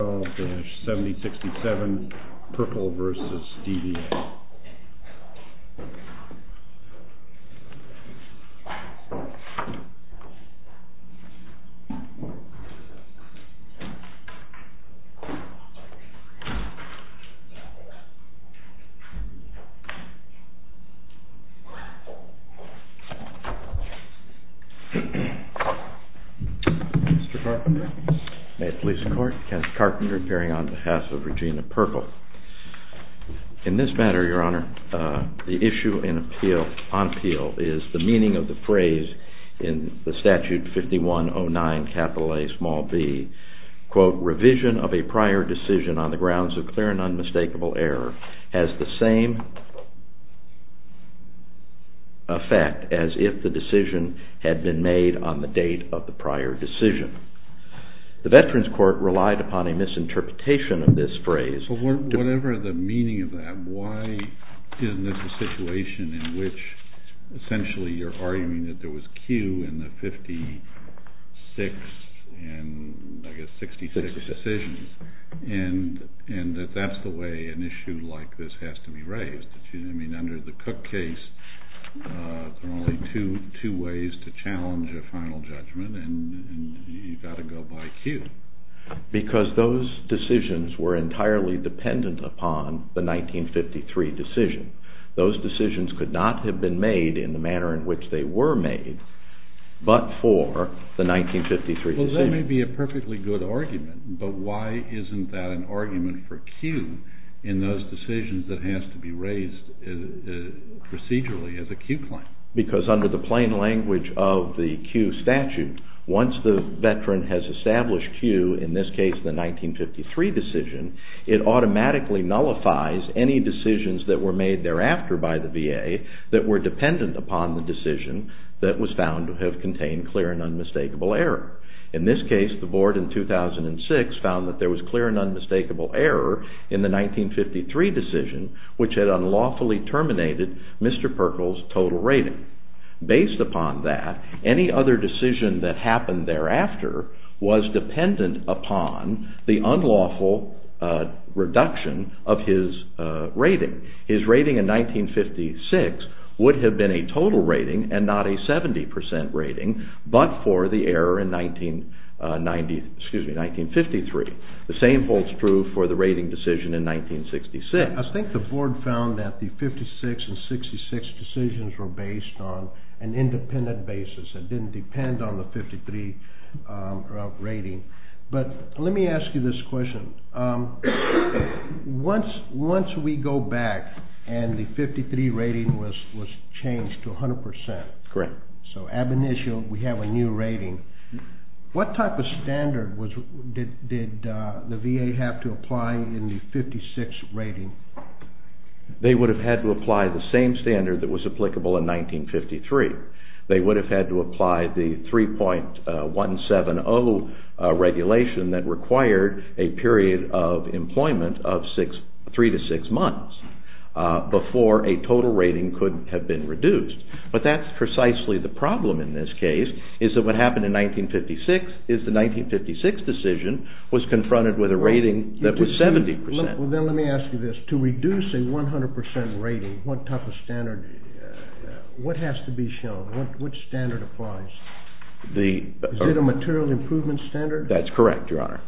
7067 PIRKL v. DVA Mr. Carpenter. May it please the Court. Kenneth Carpenter appearing on behalf of Regina PIRKL. In this matter, Your Honor, the issue on appeal is the meaning of the phrase in the Statute 5109, capital A, small b, quote, revision of a prior decision on the grounds of clear and unmistakable error has the same effect as if the decision had been made on the date of the prior decision. The Veterans Court relied upon a misinterpretation of this phrase. Whatever the meaning of that, why isn't this a situation in which essentially you're arguing that there was a queue in the 56 and I guess 66 decisions, and that that's the way an issue like this has to be raised? I mean, under the Cook case, there are only two ways to challenge a final judgment, and you've got to go by queue. Because those decisions were entirely dependent upon the 1953 decision. Those decisions could not have been made in the manner in which they were made, but for the 1953 decision. Well, that may be a perfectly good argument, but why isn't that an argument for queue in those decisions that has to be raised procedurally as a queue claim? Because under the plain language of the queue statute, once the Veteran has established queue, in this case the 1953 decision, it automatically nullifies any decisions that were made thereafter by the VA that were dependent upon the decision that was found to have contained clear and unmistakable error. In this case, the board in 2006 found that there was clear and unmistakable error in the 1953 decision, which had unlawfully terminated Mr. Perkle's total rating. Based upon that, any other decision that happened thereafter was dependent upon the unlawful reduction of his rating. His rating in 1956 would have been a total rating and not a 70% rating, but for the error in 1953. The same holds true for the rating decision in 1966. I think the board found that the 56 and 66 decisions were based on an independent basis. It didn't depend on the 53 rating. Let me ask you this question. Once we go back and the 53 rating was changed to 100%, so ab initio we have a new rating, what type of standard did the VA have to apply in the 56 rating? They would have had to apply the same standard that was applicable in 1953. They would have had to apply the 3.170 regulation that required a period of employment of three to six months before a total rating could have been reduced. But that's precisely the problem in this case is that what happened in 1956 is the 1956 decision was confronted with a rating that was 70%. Well, then let me ask you this. To reduce a 100% rating, what type of standard, what has to be shown? Which standard applies? Is it a material improvement standard? That's correct, Your Honor,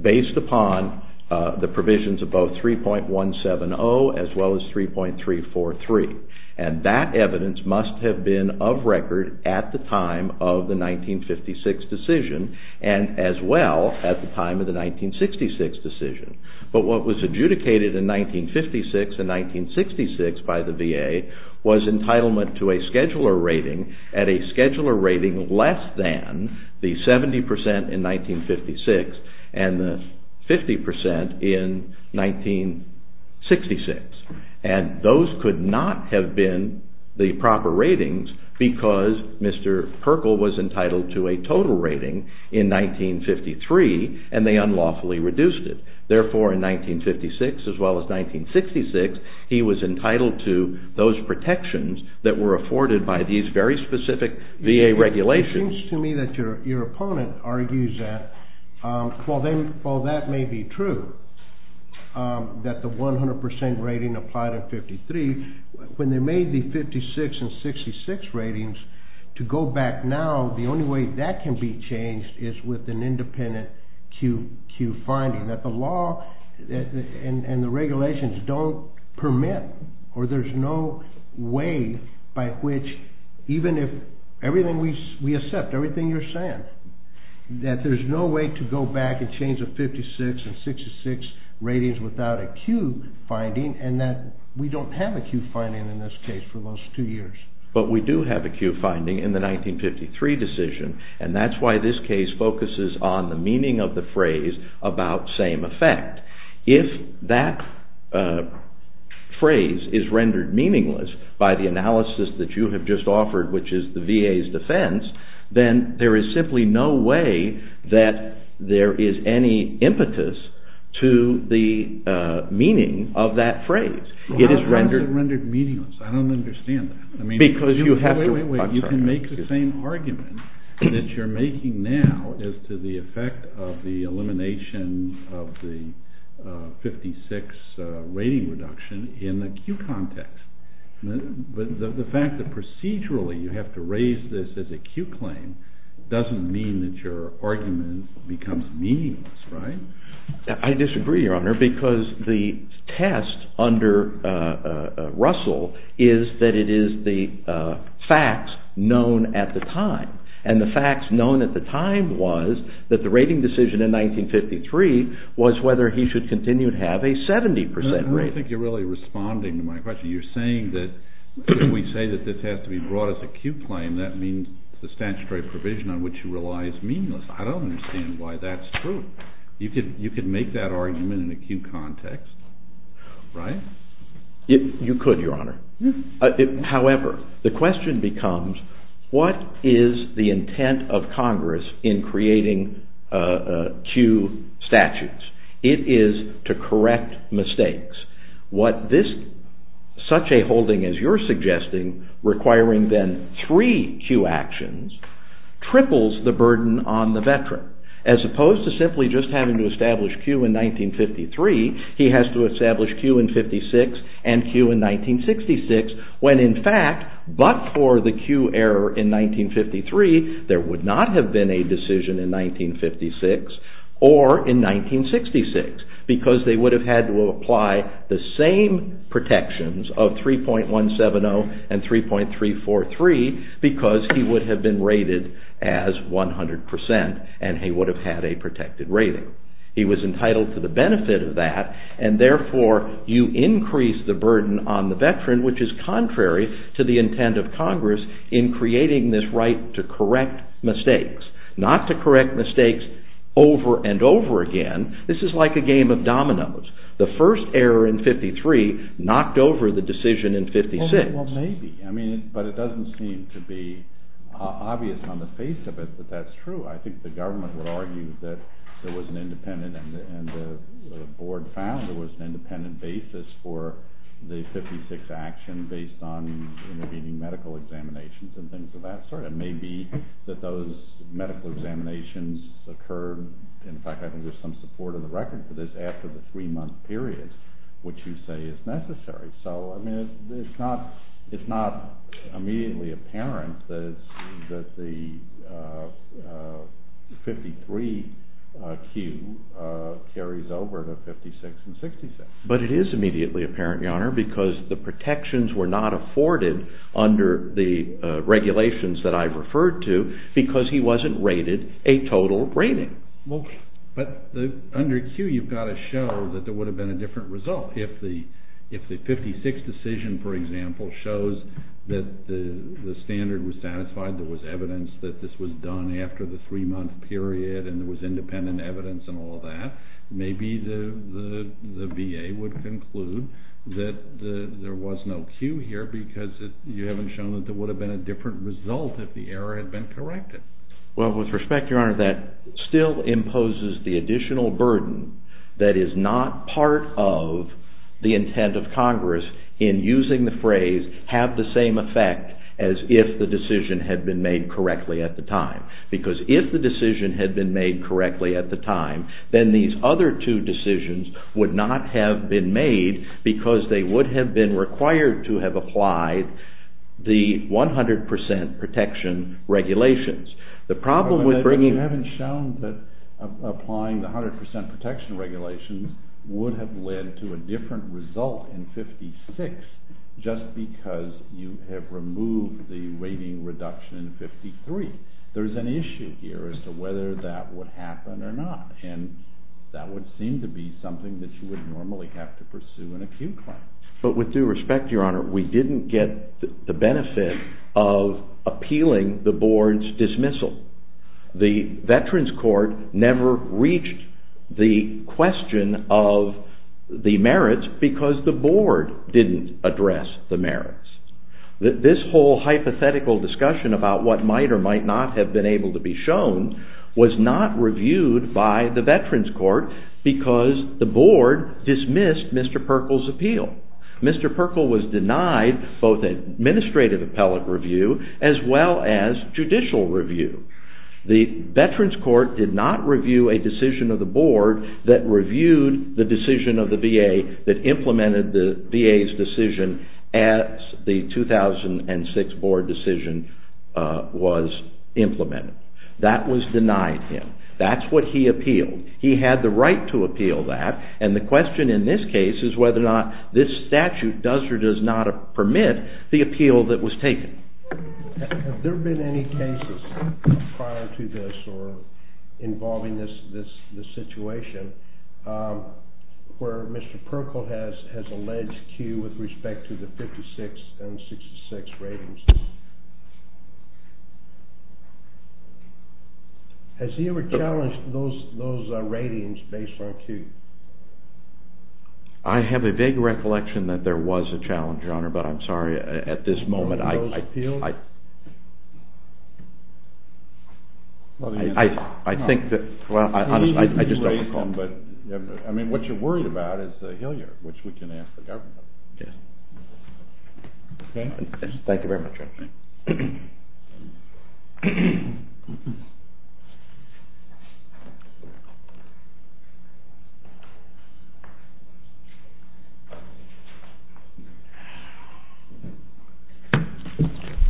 based upon the provisions of both 3.170 as well as 3.343. And that evidence must have been of record at the time of the 1956 decision and as well at the time of the 1966 decision. But what was adjudicated in 1956 and 1966 by the VA was entitlement to a scheduler rating at a scheduler rating less than the 70% in 1956 and the 50% in 1966. And those could not have been the proper ratings because Mr. Perkle was entitled to a total rating in 1953 and they unlawfully reduced it. Therefore, in 1956 as well as 1966, he was entitled to those protections that were afforded by these very specific VA regulations. It seems to me that your opponent argues that. While that may be true, that the 100% rating applied in 1953, when they made the 1956 and 1966 ratings, to go back now, the only way that can be changed is with an independent Q finding. That the law and the regulations don't permit or there's no way by which, even if we accept everything you're saying, that there's no way to go back and change the 1956 and 1966 ratings without a Q finding and that we don't have a Q finding in this case for those two years. But we do have a Q finding in the 1953 decision and that's why this case focuses on the meaning of the phrase about same effect. If that phrase is rendered meaningless by the analysis that you have just offered, which is the VA's defense, then there is simply no way that there is any impetus to the meaning of that phrase. Why is it rendered meaningless? I don't understand that. Wait, wait, wait. You can make the same argument that you're making now as to the effect of the elimination of the 1956 rating reduction in the Q context. But the fact that procedurally you have to raise this as a Q claim doesn't mean that your argument becomes meaningless, right? I disagree, Your Honor, because the test under Russell is that it is the facts known at the time. And the facts known at the time was that the rating decision in 1953 was whether he should continue to have a 70% rating. I don't think you're really responding to my question. You're saying that if we say that this has to be brought as a Q claim that means the statutory provision on which you rely is meaningless. I don't understand why that's true. You could make that argument in a Q context, right? You could, Your Honor. However, the question becomes, what is the intent of Congress in creating Q statutes? It is to correct mistakes. Such a holding as you're suggesting, requiring then three Q actions, triples the burden on the veteran. As opposed to simply just having to establish Q in 1953, he has to establish Q in 1956 and Q in 1966, when in fact, but for the Q error in 1953, there would not have been a decision in 1956 or in 1966 because they would have had to apply the same protections of 3.170 and 3.343 because he would have been rated as 100% and he would have had a protected rating. He was entitled to the benefit of that and therefore you increase the burden on the veteran, which is contrary to the intent of Congress in creating this right to correct mistakes. Not to correct mistakes over and over again. This is like a game of dominoes. The first error in 1953 knocked over the decision in 1956. Well, maybe, but it doesn't seem to be obvious on the face of it that that's true. I think the government would argue that there was an independent and the board found there was an independent basis for the 1956 action based on intervening medical examinations and things of that sort. And maybe that those medical examinations occurred. In fact, I think there's some support in the record for this after the three month period, which you say is necessary. So, I mean, it's not immediately apparent that the 53 Q carries over to 56 and 66. But it is immediately apparent, Your Honor, because the protections were not afforded under the regulations that I've referred to because he wasn't rated a total rating. But under Q you've got to show that there would have been a different result. If the 56 decision, for example, shows that the standard was satisfied, there was evidence that this was done after the three month period and there was independent evidence and all of that, maybe the VA would conclude that there was no Q here because you haven't shown that there would have been a different result if the error had been corrected. Well, with respect, Your Honor, that still imposes the additional burden that is not part of the intent of Congress in using the phrase have the same effect as if the decision had been made correctly at the time. Because if the decision had been made correctly at the time, then these other two decisions would not have been made because they would have been required to have applied the 100% protection regulations. The problem with bringing... You haven't shown that applying the 100% protection regulations would have led to a different result in 56 just because you have removed the rating reduction in 53. There's an issue here as to whether that would happen or not and that would seem to be something that you would normally have to pursue in a Q claim. But with due respect, Your Honor, we didn't get the benefit of appealing the Board's dismissal. The Veterans Court never reached the question of the merits because the Board didn't address the merits. This whole hypothetical discussion about what might or might not have been able to be shown was not reviewed by the Veterans Court because the Board dismissed Mr. Perkle's appeal. Mr. Perkle was denied both administrative appellate review as well as judicial review. The Veterans Court did not review a decision of the Board that reviewed the decision of the VA that implemented the VA's decision as the 2006 Board decision was implemented. That was denied him. That's what he appealed. He had the right to appeal that and the question in this case is whether or not this statute does or does not permit the appeal that was taken. Have there been any cases prior to this or involving this situation where Mr. Perkle has alleged Q with respect to the 56 and 66 ratings? Has he ever challenged those ratings based on Q? I have a vague recollection that there was a challenge, Your Honor, but I'm sorry. At this moment, I think that I just don't recall. I mean, what you're worried about is the Hill yard, which we can ask the government. Yes. Thank you very much, Your Honor.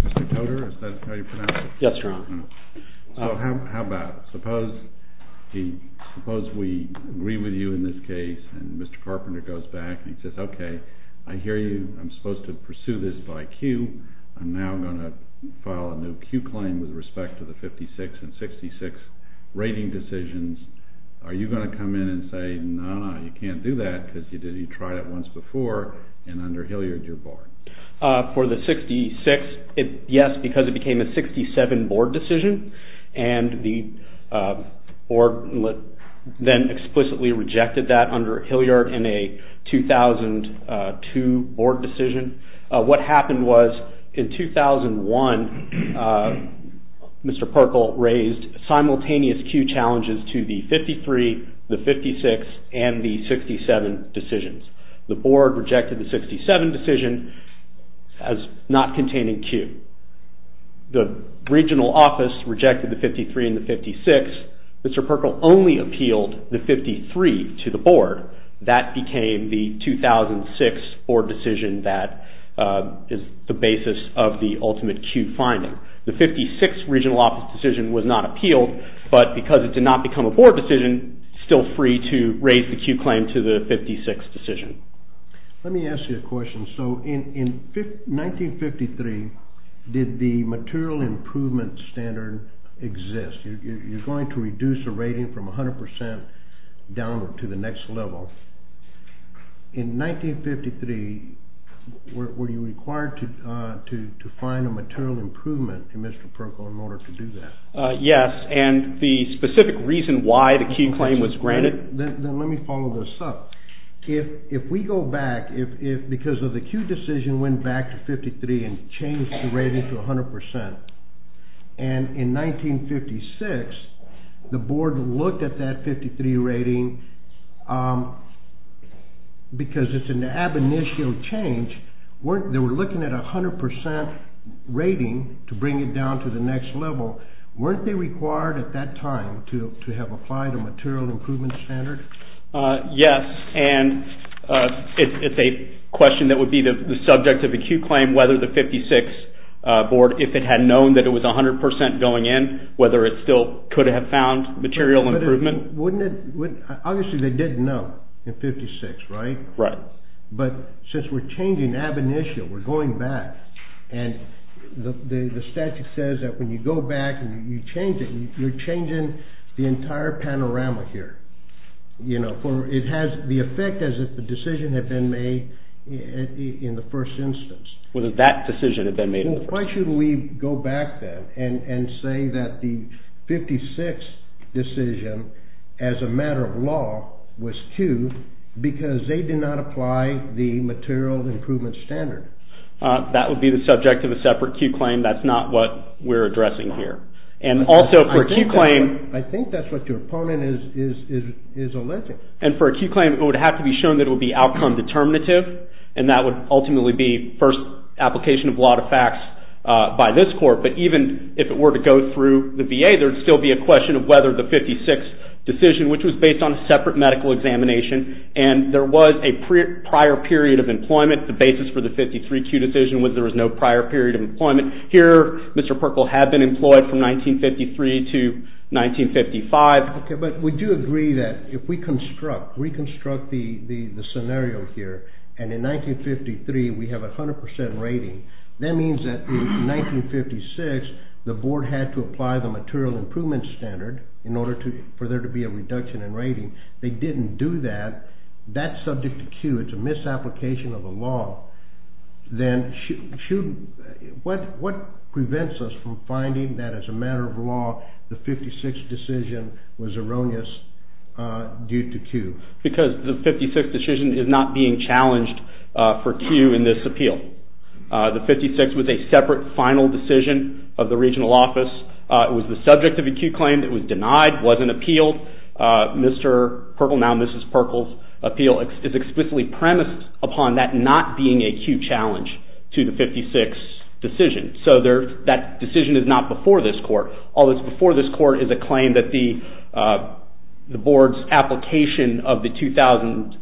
Mr. Coder, is that how you pronounce it? Yes, Your Honor. So how about suppose we agree with you in this case and Mr. Carpenter goes back and he says, okay, I hear you. I'm supposed to pursue this by Q. I'm now going to file a new Q claim with respect to the 56 and 66 rating decisions. Are you going to come in and say, no, no, you can't do that because you tried it once before and under Hill yard, you're barred? For the 66, yes, because it became a 67 board decision and the board then explicitly rejected that under Hill yard in a 2002 board decision. What happened was in 2001, Mr. Perkle raised simultaneous Q challenges to the 53, the 56, and the 67 decisions. The board rejected the 67 decision as not containing Q. The regional office rejected the 53 and the 56. Mr. Perkle only appealed the 53 to the board. That became the 2006 board decision that is the basis of the ultimate Q finding. The 56 regional office decision was not appealed, but because it did not become a board decision, still free to raise the Q claim to the 56 decision. Let me ask you a question. So in 1953, did the material improvement standard exist? You're going to reduce a rating from 100% downward to the next level. In 1953, were you required to find a material improvement in Mr. Perkle in order to do that? Yes, and the specific reason why the Q claim was granted. Then let me follow this up. If we go back, if because of the Q decision went back to 53 and changed the rating to 100%, and in 1956, the board looked at that 53 rating because it's an ab initio change. They were looking at 100% rating to bring it down to the next level. Weren't they required at that time to have applied a material improvement standard? Yes, and it's a question that would be the subject of a Q claim whether the 56 board, if it had known that it was 100% going in, whether it still could have found material improvement. Obviously, they didn't know in 56, right? Right. But since we're changing ab initio, we're going back, and the statute says that when you go back and you change it, you're changing the entire panorama here. It has the effect as if the decision had been made in the first instance. Why should we go back then and say that the 56 decision as a matter of law was Q because they did not apply the material improvement standard? That would be the subject of a separate Q claim. That's not what we're addressing here. I think that's what your opponent is alleging. And for a Q claim, it would have to be shown that it would be outcome determinative, and that would ultimately be first application of a lot of facts by this court. But even if it were to go through the VA, there would still be a question of whether the 56 decision, which was based on a separate medical examination, and there was a prior period of employment. The basis for the 53Q decision was there was no prior period of employment. Here, Mr. Perkle had been employed from 1953 to 1955. But we do agree that if we reconstruct the scenario here, and in 1953 we have a 100% rating, that means that in 1956 the board had to apply the material improvement standard in order for there to be a reduction in rating. They didn't do that. That's subject to Q. It's a misapplication of the law. Then what prevents us from finding that as a matter of law the 56 decision was erroneous due to Q? Because the 56 decision is not being challenged for Q in this appeal. The 56 was a separate final decision of the regional office. It was the subject of a Q claim that was denied, wasn't appealed. Mr. Perkle, now Mrs. Perkle's appeal, is explicitly premised upon that not being a Q challenge to the 56 decision. So that decision is not before this court. All that's before this court is a claim that the board's application of the 2006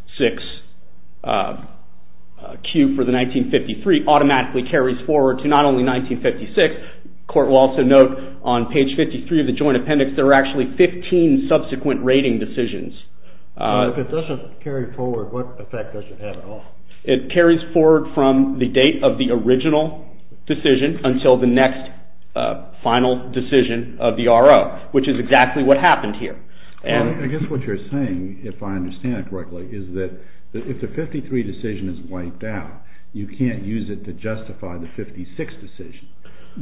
Q for the 1953 automatically carries forward to not only 1956. The court will also note on page 53 of the joint appendix there are actually 15 subsequent rating decisions. If it doesn't carry forward, what effect does it have at all? It carries forward from the date of the original decision until the next final decision of the RO, which is exactly what happened here. I guess what you're saying, if I understand it correctly, is that if the 53 decision is wiped out, you can't use it to justify the 56 decision.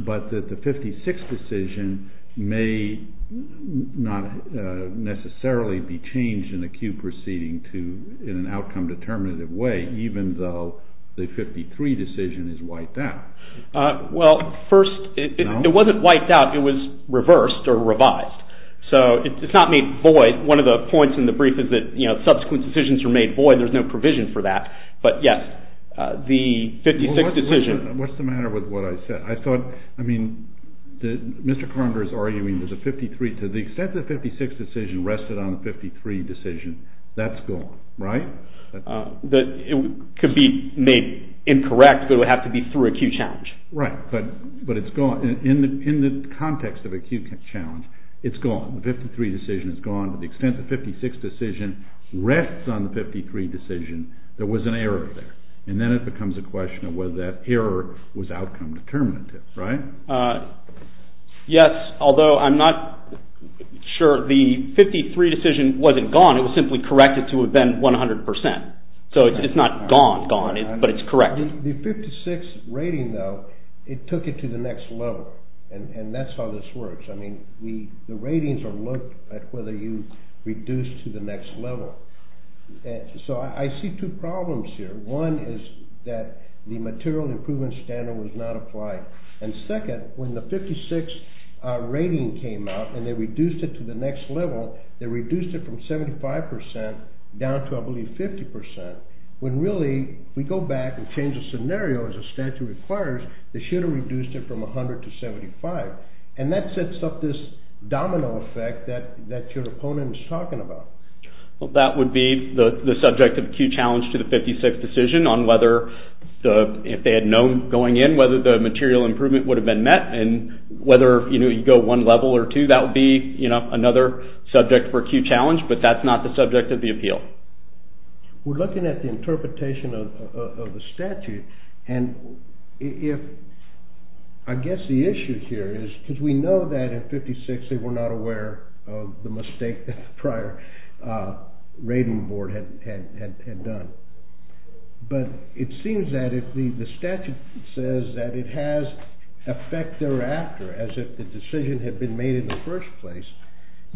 But that the 56 decision may not necessarily be changed in the Q proceeding in an outcome determinative way, even though the 53 decision is wiped out. Well, first, it wasn't wiped out. It was reversed or revised. So it's not made void. One of the points in the brief is that subsequent decisions are made void. There's no provision for that. But, yes, the 56 decision. What's the matter with what I said? I thought, I mean, Mr. Carndor is arguing that the extent of the 56 decision rested on the 53 decision. That's gone, right? It could be made incorrect, but it would have to be through a Q challenge. Right, but it's gone. In the context of a Q challenge, it's gone. The 53 decision is gone. The extent of the 56 decision rests on the 53 decision. There was an error there. And then it becomes a question of whether that error was outcome determinative, right? Yes, although I'm not sure. The 53 decision wasn't gone. It was simply corrected to have been 100%. So it's not gone, gone, but it's corrected. The 56 rating, though, it took it to the next level, and that's how this works. I mean, the ratings are looked at whether you reduce to the next level. So I see two problems here. One is that the material improvement standard was not applied. And second, when the 56 rating came out and they reduced it to the next level, they reduced it from 75% down to, I believe, 50%. When really we go back and change the scenario as the statute requires, they should have reduced it from 100 to 75. And that sets up this domino effect that your opponent is talking about. Well, that would be the subject of the Q challenge to the 56 decision on whether, if they had known going in, whether the material improvement would have been met. And whether you go one level or two, that would be another subject for Q challenge, but that's not the subject of the appeal. We're looking at the interpretation of the statute. I guess the issue here is, because we know that in 56 they were not aware of the mistake that the prior rating board had done. But it seems that if the statute says that it has effect thereafter, as if the decision had been made in the first place,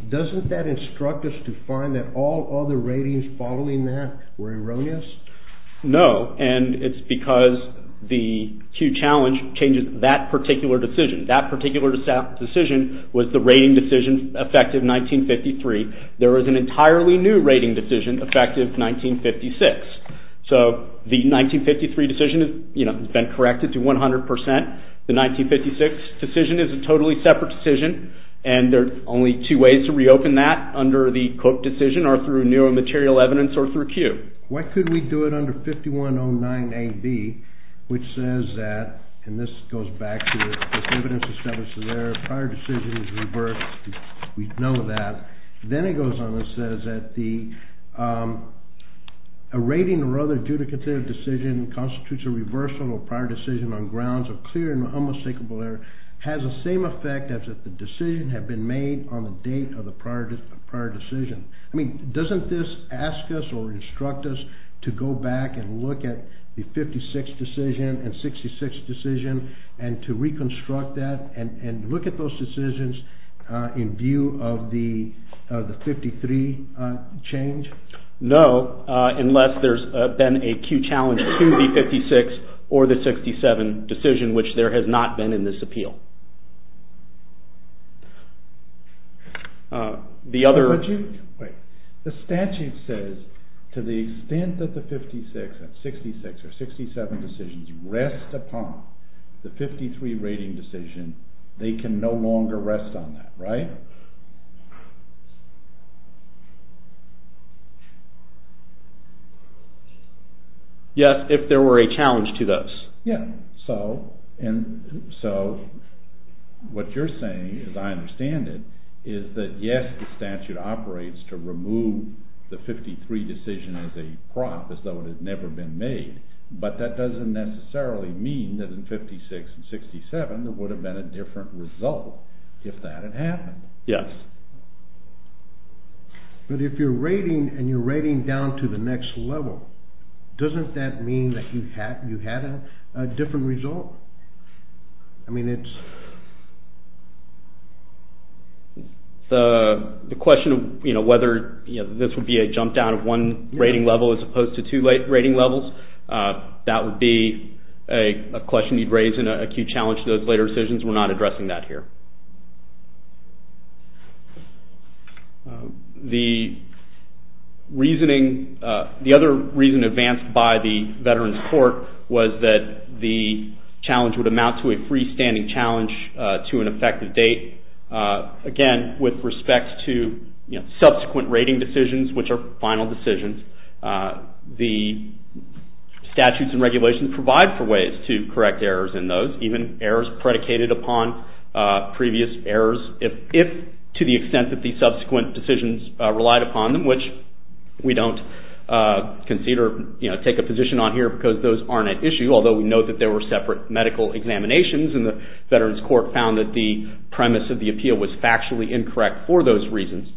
doesn't that instruct us to find that all other ratings following that were erroneous? No, and it's because the Q challenge changes that particular decision. That particular decision was the rating decision effective 1953. There was an entirely new rating decision effective 1956. So the 1953 decision has been corrected to 100%. The 1956 decision is a totally separate decision, and there are only two ways to reopen that under the Cook decision, or through new material evidence or through Q. Why couldn't we do it under 5109AB, which says that, and this goes back to the evidence established there, prior decision is reversed. We know that. Then it goes on and says that a rating or other judicative decision constitutes a reversal of prior decision on grounds of clear and unmistakable error, has the same effect as if the decision had been made on the date of the prior decision. I mean, doesn't this ask us or instruct us to go back and look at the 56 decision and 66 decision and to reconstruct that and look at those decisions in view of the 53 change? No, unless there's been a Q challenge to the 56 or the 67 decision, which there has not been in this appeal. The statute says to the extent that the 56 and 66 or 67 decisions rest upon the 53 rating decision, they can no longer rest on that, right? Yes, if there were a challenge to those. Yeah, so what you're saying, as I understand it, is that yes, the statute operates to remove the 53 decision as a prop, as though it had never been made, but that doesn't necessarily mean that in 56 and 67 there would have been a different result if that had happened. Yes. But if you're rating and you're rating down to the next level, doesn't that mean that you had a different result? I mean, it's... The question of whether this would be a jump down of one rating level as opposed to two rating levels, that would be a question you'd raise in a Q challenge to those later decisions. We're not addressing that here. The reasoning... The other reason advanced by the Veterans Court was that the challenge would amount to a freestanding challenge to an effective date. Again, with respect to subsequent rating decisions, which are final decisions, the statutes and regulations provide for ways to correct errors in those, even errors predicated upon previous errors, if to the extent that the subsequent decisions relied upon them, which we don't consider, you know, take a position on here because those aren't at issue, although we know that there were separate medical examinations and the Veterans Court found that the premise of the appeal was factually incorrect for those reasons.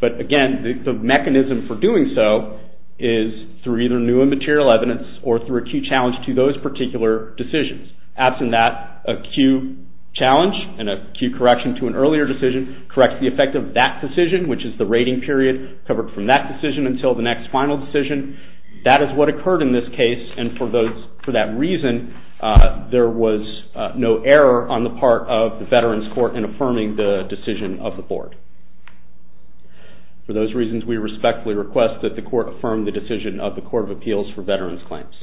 But again, the mechanism for doing so is through either new and material evidence or through a Q challenge to those particular decisions. Absent that, a Q challenge and a Q correction to an earlier decision corrects the effect of that decision, which is the rating period covered from that decision until the next final decision. That is what occurred in this case, and for that reason, there was no error on the part of the Veterans Court in affirming the decision of the Board. For those reasons, we respectfully request that the Court affirm the decision of the Court of Appeals for Veterans Claims.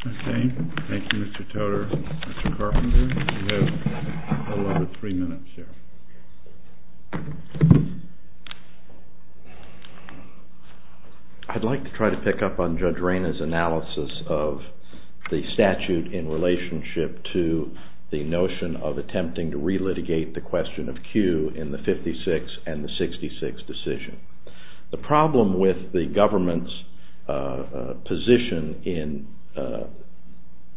Okay. Thank you, Mr. Toder. Mr. Carpenter, you have a little over three minutes here. I'd like to try to pick up on Judge Rayna's analysis of the statute in relationship to the notion of attempting to re-litigate the question of Q in the 56 and the 66 decision. The problem with the government's position in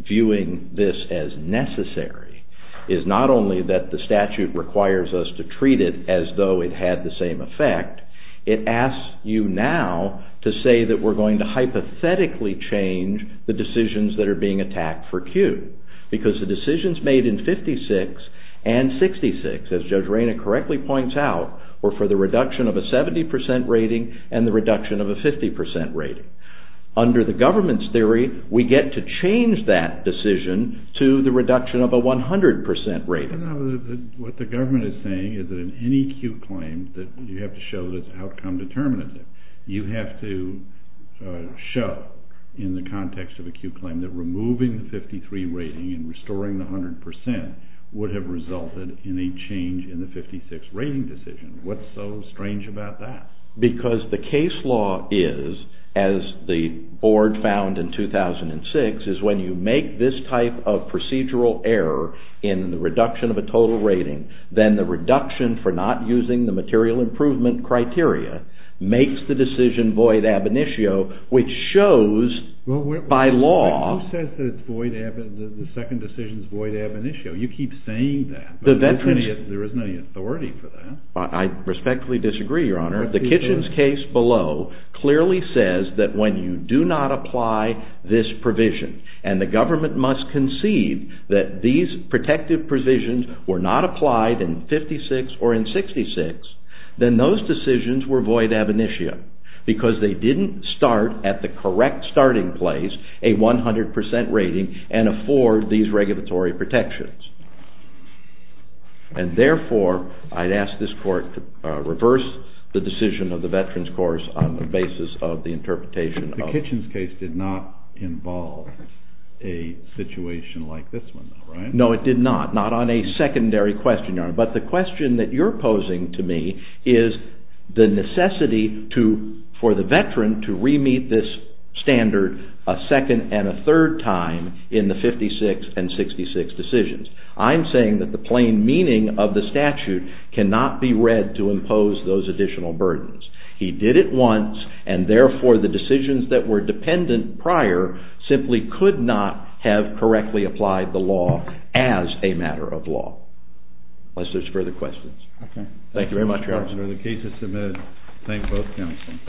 viewing this as necessary is not only that the statute requires us to treat it as though it had the same effect, it asks you now to say that we're going to hypothetically change the decisions that are being attacked for Q, because the decisions made in 56 and 66, as Judge Rayna correctly points out, were for the reduction of a 70% rating and the reduction of a 50% rating. Under the government's theory, we get to change that decision to the reduction of a 100% rating. What the government is saying is that in any Q claim, you have to show that the outcome determines it. You have to show in the context of a Q claim that removing the 53 rating and restoring the 100% would have resulted in a change in the 56 rating decision. What's so strange about that? Because the case law is, as the board found in 2006, is when you make this type of procedural error in the reduction of a total rating, then the reduction for not using the material improvement criteria makes the decision void ab initio, which shows by law... There is no authority for that. I respectfully disagree, Your Honor. The Kitchens case below clearly says that when you do not apply this provision and the government must concede that these protective provisions were not applied in 56 or in 66, then those decisions were void ab initio, because they didn't start at the correct starting place, a 100% rating, and afford these regulatory protections. And therefore, I'd ask this court to reverse the decision of the Veterans Course on the basis of the interpretation of... The Kitchens case did not involve a situation like this one, right? No, it did not. Not on a secondary question, Your Honor. But the question that you're posing to me is the necessity for the veteran to re-meet this standard a second and a third time in the 56 and 66 decisions. I'm saying that the plain meaning of the statute cannot be read to impose those additional burdens. He did it once, and therefore the decisions that were dependent prior simply could not have correctly applied the law as a matter of law, unless there's further questions. Thank you very much, Your Honor. The case is submitted. Thank both counsels.